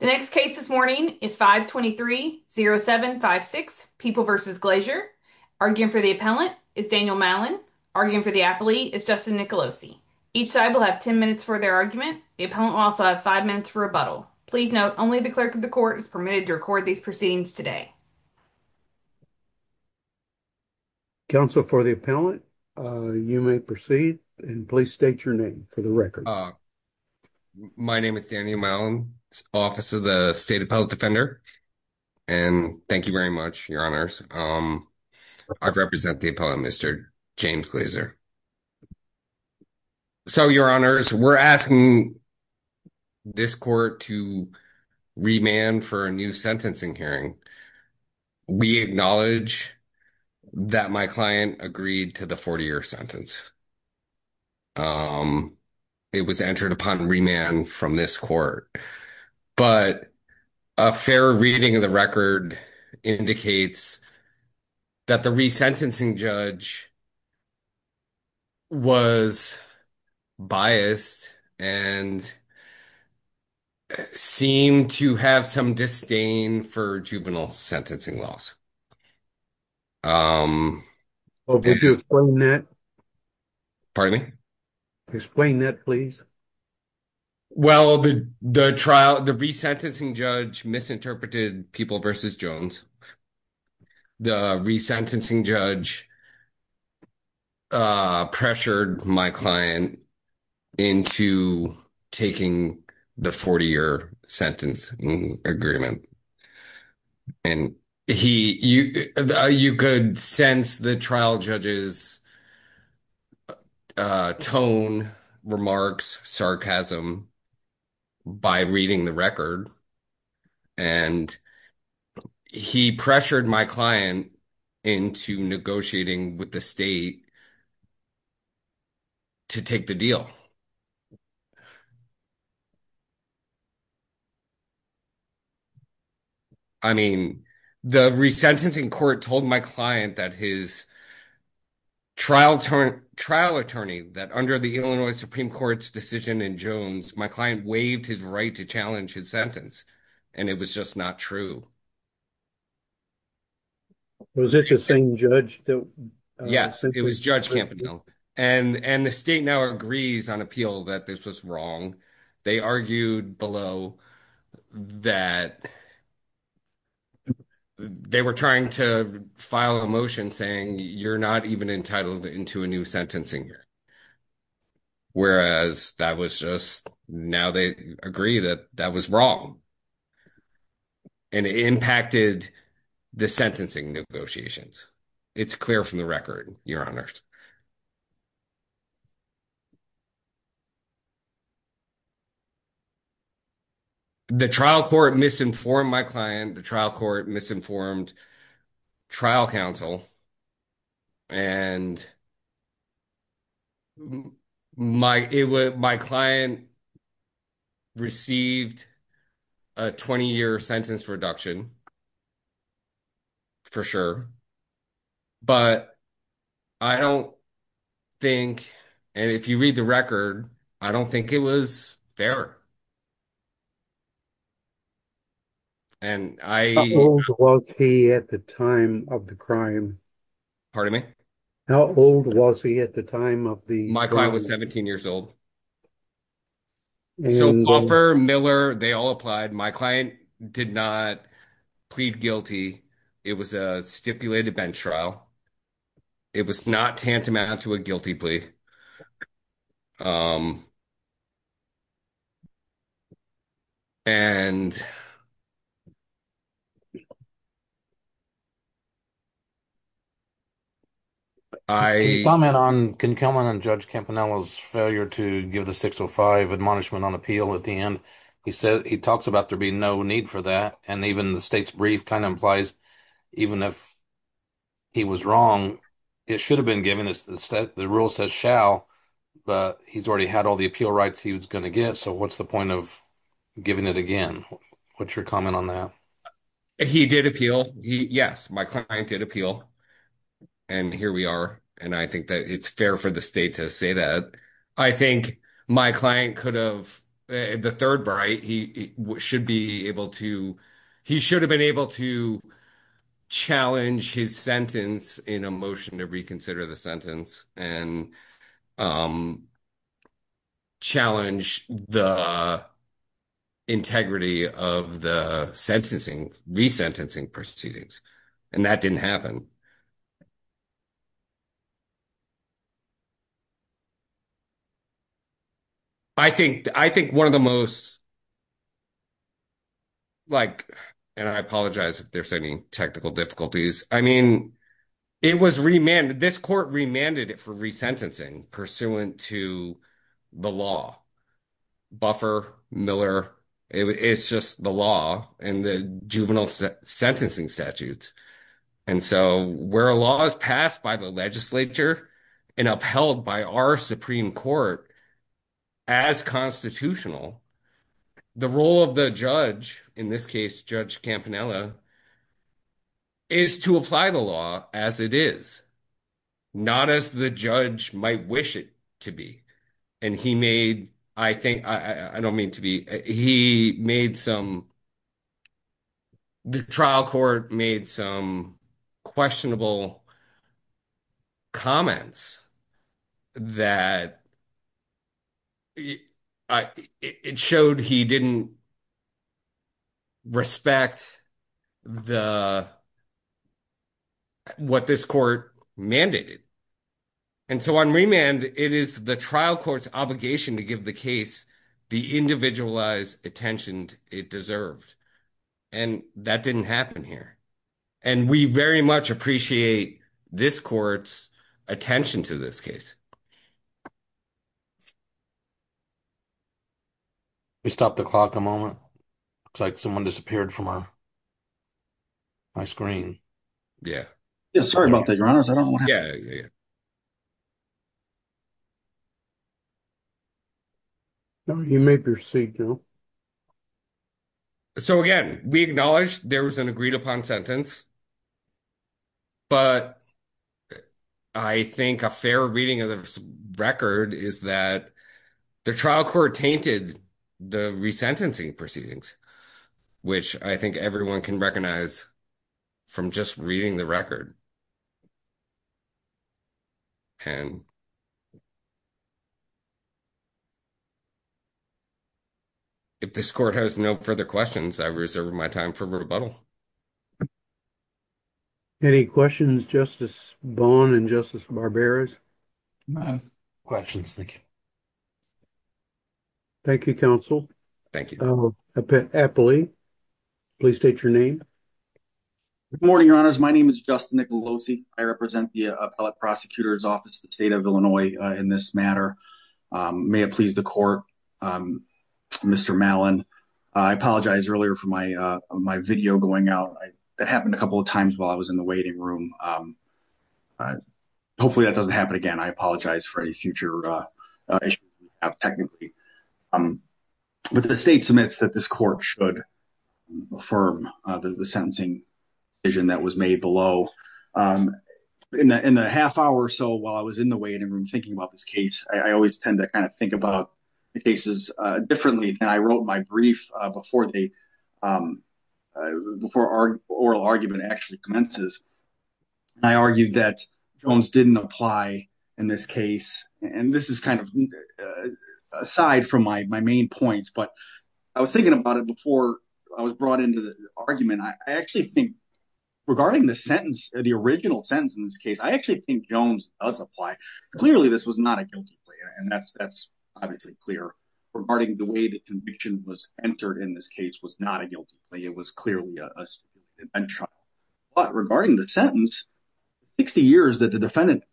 The next case this morning is 523-0756, People v. Glazier. Arguing for the appellant is Daniel Mallon. Arguing for the appellee is Justin Nicolosi. Each side will have 10 minutes for their argument. The appellant will also have 5 minutes for rebuttal. Please note, only the clerk of the court is permitted to record these proceedings today. Counsel for the appellant, you may proceed and please state your name for the record. My name is Daniel Mallon, Office of the State Appellate Defender. And thank you very much, Your Honors. I represent the appellant, Mr. James Glazier. So, Your Honors, we're asking this court to remand for a new sentencing hearing. We acknowledge that my client agreed to the 40-year sentence. It was entered upon remand from this court. But a fair reading of the record indicates that the resentencing judge was biased and seemed to have some disdain for juvenile sentencing laws. Could you explain that? Pardon me? Explain that, please. Well, the resentencing judge misinterpreted People v. Jones. The resentencing judge pressured my client into taking the 40-year sentence agreement. And you could sense the trial judge's tone, remarks, sarcasm by reading the record. And he pressured my client into negotiating with the state to take the deal. I mean, the resentencing court told my client that his trial attorney, that under the Illinois Supreme Court's decision in Jones, my client waived his right to challenge his sentence. And it was just not true. Was it the same judge? Yes, it was Judge Campagnolo. And the state now agrees on appeal that this was wrong. They argued below that they were trying to file a motion saying you're not even entitled into a new sentencing year. Whereas that was just now they agree that that was wrong. And it impacted the sentencing negotiations. It's clear from the record, Your Honor. The trial court misinformed my client, the trial court misinformed trial counsel. And my client received a 20-year sentence reduction, for sure. But I don't think, and if you read the record, I don't think it was fair. And I- How old was he at the time of the crime? Pardon me? How old was he at the time of the- My client was 17 years old. So Offer, Miller, they all applied. My client did not plead guilty. It was a stipulated bench trial. It was not tantamount to a guilty plea. And I- Can you comment on, can you comment on Judge Campanella's failure to give the 605 admonishment on appeal at the end? He said he talks about there being no need for that. And even the state's brief kind of implies, even if he was wrong, it should have been given. The rule says shall, but he's already had all the appeal rights he was going to get. So what's the point of giving it again? What's your comment on that? He did appeal. Yes, my client did appeal. And here we are. And I think that it's fair for the state to say that. I think my client could have, the third right, he should be able to, he should have been able to challenge his sentence in a motion to reconsider the sentence and challenge the integrity of the sentencing, resentencing proceedings. And that didn't happen. I think, I think one of the most, like, and I apologize if there's any technical difficulties. I mean, it was remanded, this court remanded it for resentencing pursuant to the law. Buffer, Miller, it's just the law and the juvenile sentencing statutes. And so where a law is passed by the legislature and upheld by our Supreme Court as constitutional, the role of the judge, in this case, Judge Campanella, is to apply the law as it is, not as the judge might wish it to be. And he made, I think, I don't mean to be, he made some, the trial court made some questionable comments that, it showed he didn't respect the, what this court mandated. And so on remand, it is the trial court's obligation to give the case the individualized attention it deserved. And that didn't happen here. And we very much appreciate this court's attention to this case. Can we stop the clock a moment? Looks like someone disappeared from our, my screen. Yeah. Yeah, sorry about that, your honors. I don't know what happened. Yeah, yeah. You may proceed, Joe. So again, we acknowledge there was an agreed upon sentence. But I think a fair reading of the record is that the trial court tainted the resentencing proceedings, which I think everyone can recognize from just reading the record. And if this court has no further questions, I reserve my time for rebuttal. Any questions, Justice Vaughn and Justice Barberos? Questions, thank you. Thank you, counsel. Thank you. I will appeal, please state your name. Good morning, your honors. My name is Justin Nicolosi. I represent the appellate prosecutor's office, the state of Illinois in this matter. May it please the court, Mr. Malin. I apologize earlier for my video going out. That happened a couple of times while I was in the waiting room. Hopefully that doesn't happen again. I apologize for any future issues we have technically. But the state submits that this court should affirm the sentencing decision that was made below. In the half hour or so while I was in the waiting room thinking about this case, I always tend to kind of think about the cases differently than I wrote my brief before the oral argument actually commences. And I argued that Jones didn't apply in this case. And this is kind of aside from my main points. But I was thinking about it before I was brought into the argument. I actually think regarding the sentence, the original sentence in this case, I actually think Jones does apply. Clearly, this was not a guilty plea. And that's obviously clear. Regarding the way the conviction was entered in this case was not a guilty plea. It was clearly a trial. But regarding the sentence, 60 years that the defendant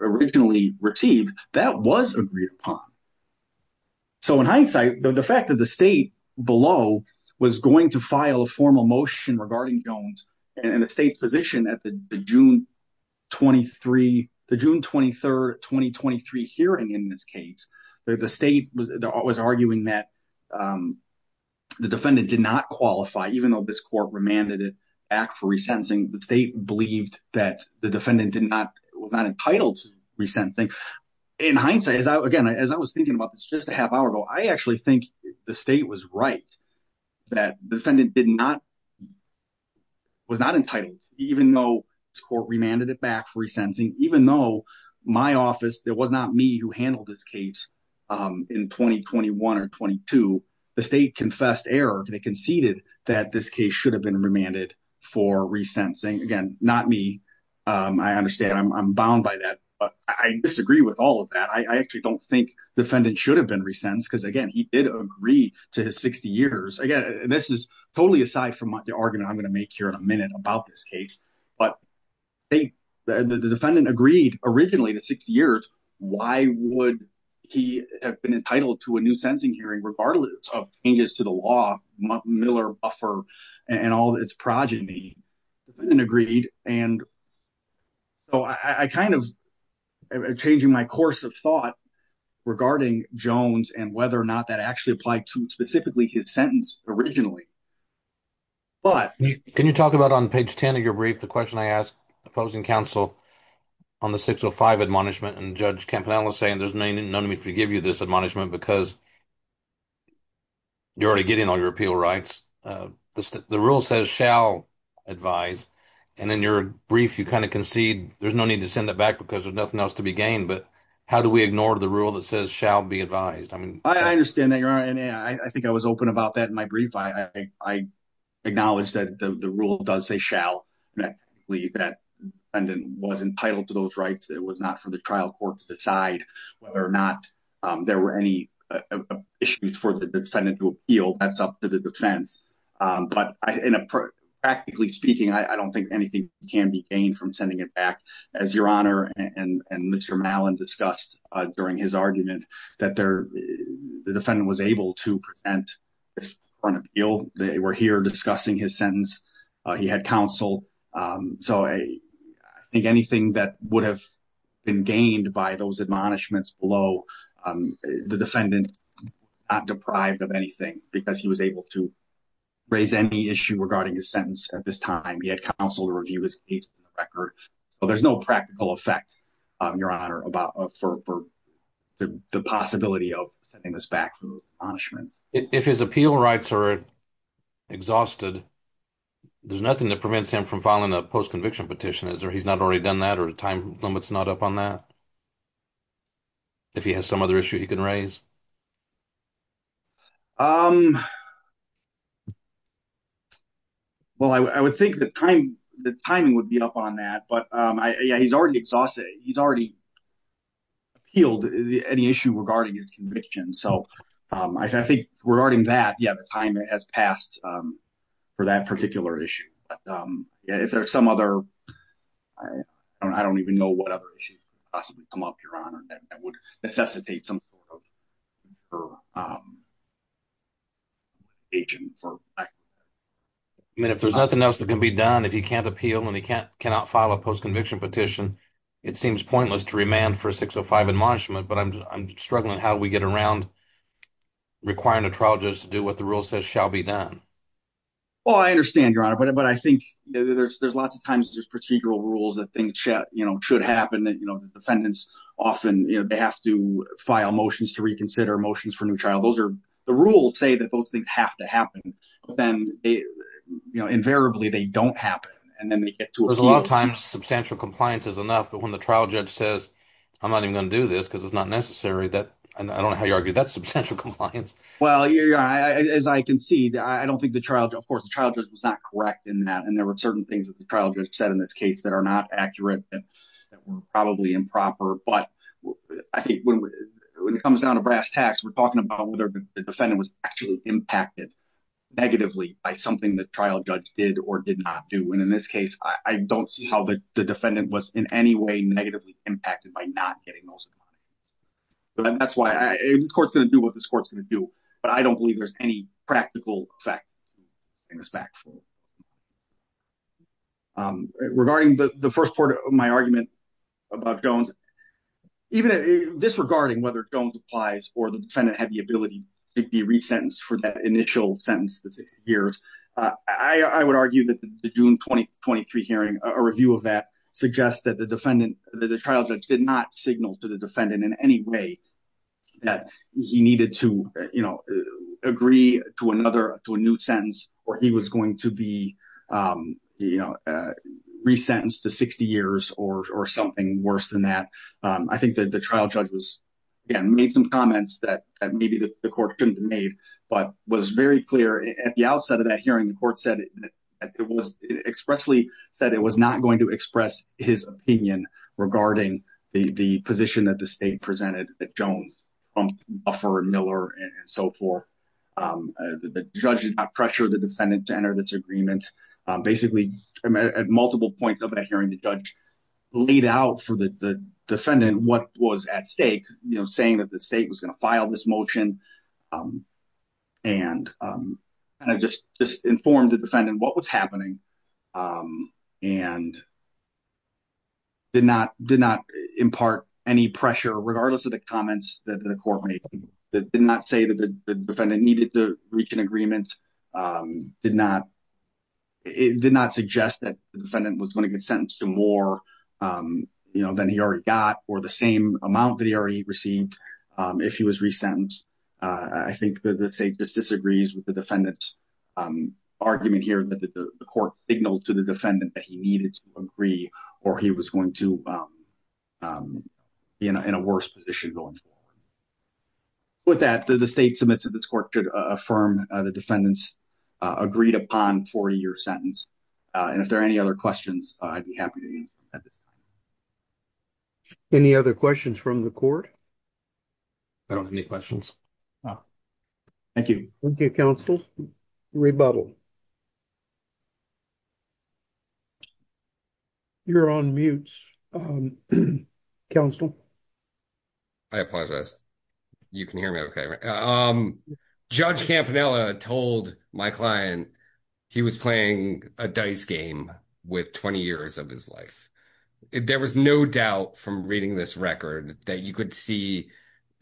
originally received, that was agreed upon. So in hindsight, the fact that the state below was going to file a formal motion regarding Jones and the state's position at the June 23rd, 2023 hearing in this case, the state was arguing that the defendant did not qualify, even though this court remanded it back for resentencing, the state believed that the defendant was not entitled to resentencing. In hindsight, again, as I was thinking about this just a half hour ago, I actually think the state was right that the defendant was not entitled, even though this court remanded it back for resentencing, even though my office, it was not me who handled this case in 2021 or 22, the state confessed error. They conceded that this case should have been remanded for resentencing. Again, not me. I understand. I'm bound by that. But I disagree with all of that. I actually don't think the defendant should have been resentenced because again, he did agree to his 60 years. Again, this is totally aside from the argument I'm going to make here in a minute about this case. But the defendant agreed originally to 60 years. Why would he have been entitled to a new sentencing hearing regardless of changes to the law, Miller, Buffer, and all its progeny? The defendant agreed. And so I'm kind of changing my course of thought regarding Jones and whether or not that actually applied to specifically his sentence originally. But can you talk about on page 10 of your brief, the question I asked opposing counsel on the 605 admonishment and Judge Campanella saying there's no need for me to give you this admonishment because you're already getting all your appeal rights. The rule says shall advise. And in your brief, you kind of concede there's no need to send it back because there's nothing else to be gained. But how do we ignore the rule that says shall be advised? I mean, I understand that. You're right. I think I was open about that in my brief. I acknowledge that the rule does say shall. That defendant was entitled to those rights. It was not for the trial court to decide whether or not there were any issues for the defendant to appeal. That's up to the defense. But practically speaking, I don't think anything can be gained from sending it back. As Your Honor and Mr. Mallon discussed during his argument that the defendant was able to present his front appeal. They were here discussing his sentence. He had counsel. So I think anything that would have been gained by those admonishments below the defendant is not deprived of anything because he was able to raise any issue regarding his sentence at this time. He had counsel to review his case on the record. So there's no practical effect, Your Honor, for the possibility of sending this back for admonishments. If his appeal rights are exhausted, there's nothing that prevents him from filing a post-conviction petition. He's not already done that or the time limit's not up on that? If he has some other issue he can raise? Well, I would think the timing would be up on that. But yeah, he's already exhausted it. He's already appealed any issue regarding his conviction. So I think regarding that, yeah, the time has passed for that particular issue. But yeah, if there's some other, I don't even know what other issue possibly come up, Your Honor, that would necessitate some sort of agent. I mean, if there's nothing else that can be done, if he can't appeal and he cannot file a post-conviction petition, it seems pointless to remand for 605 admonishment. But I'm struggling how we get around requiring a trial just to do what the rule says shall be done. Well, I understand, Your Honor, but I think there's lots of times there's procedural rules that things should happen that the defendants often, they have to file motions to reconsider motions for new trial. Those are the rules say that those things have to happen. But then, invariably, they don't happen. And then they get to appeal. There's a lot of times substantial compliance is enough. But when the trial judge says, I'm not even going to do this because it's not necessary, that I don't know how you argue that substantial compliance. Well, as I can see, I don't think the trial, of course, the trial judge was not correct in that. There were certain things that the trial judge said in this case that are not accurate, that were probably improper. But I think when it comes down to brass tacks, we're talking about whether the defendant was actually impacted negatively by something the trial judge did or did not do. And in this case, I don't see how the defendant was in any way negatively impacted by not getting those admonishments. But that's why this court's going to do what this court's going to do. But I don't believe there's any practical effect of bringing this back forward. Regarding the first part of my argument about Jones, even disregarding whether Jones applies or the defendant had the ability to be resentenced for that initial sentence that's six years, I would argue that the June 2023 hearing, a review of that suggests that the defendant, the trial judge did not signal to the defendant in any way that he needed to agree to another, to a new sentence, or he was going to be, you know, resentenced to 60 years or something worse than that. I think that the trial judge was, again, made some comments that maybe the court shouldn't have made, but was very clear at the outset of that hearing, the court said that it was expressly said it was not going to express his opinion regarding the position that the state presented that Jones, Buffer, Miller, and so forth. The judge did not pressure the defendant to enter this agreement. Basically, at multiple points of that hearing, the judge laid out for the defendant what was at stake, you know, saying that the state was going to file this motion and kind of just informed the defendant what was happening and did not impart any pressure, regardless of the comments that the court made, did not say that the defendant needed to reach an agreement, did not suggest that the defendant was going to get sentenced to more than he already got or the same amount that he already received if he was resentenced. I think that the state just disagrees with the defendant's argument here that the court signaled to the defendant that he needed to agree or he was going to be in a worse position going forward. With that, the state submits that this court should affirm the defendant's agreed-upon 40-year sentence. And if there are any other questions, I'd be happy to answer them at this time. Any other questions from the court? I don't have any questions. Thank you. Thank you, counsel. Rebuttal. You're on mute, counsel. I apologize. You can hear me okay? Judge Campanella told my client he was playing a dice game with 20 years of his life. There was no doubt from reading this record that you could see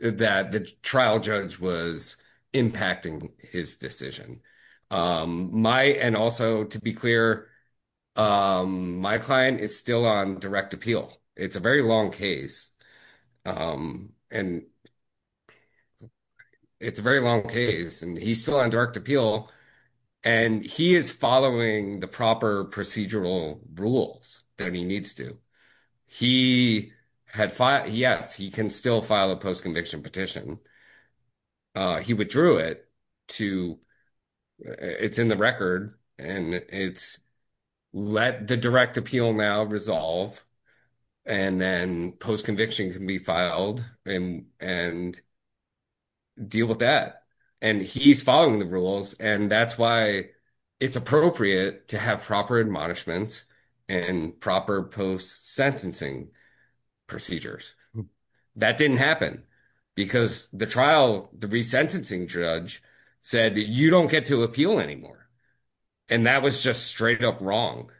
that the trial judge was impacting his decision. And also, to be clear, my client is still on direct appeal. It's a very long case. And it's a very long case. And he's still on direct appeal. And he is following the proper procedural rules that he needs to. He had filed, yes, he can still file a post-conviction petition. He withdrew it to, it's in the record, and it's let the direct appeal now resolve. And then post-conviction can be filed and deal with that. And he's following the rules. And that's why it's appropriate to have proper admonishments and proper post-sentencing procedures. That didn't happen because the trial, the resentencing judge said you don't get to appeal anymore. And that was just straight up wrong.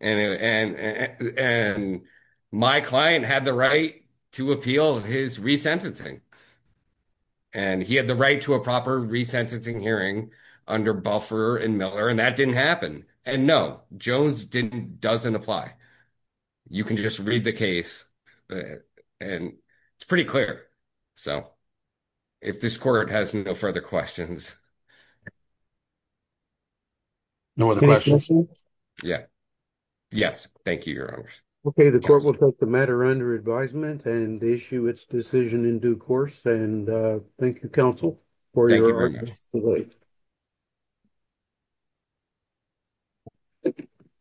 And my client had the right to appeal his resentencing. And he had the right to a proper resentencing hearing under Buffer and Miller, and that didn't happen. And no, Jones doesn't apply. You can just read the case. And it's pretty clear. So if this court has no further questions. No other questions. Yeah. Yes, thank you, Your Honor. Okay, the court will take the matter under advisement and issue its decision in due course. And thank you, counsel, for your audience. Good night.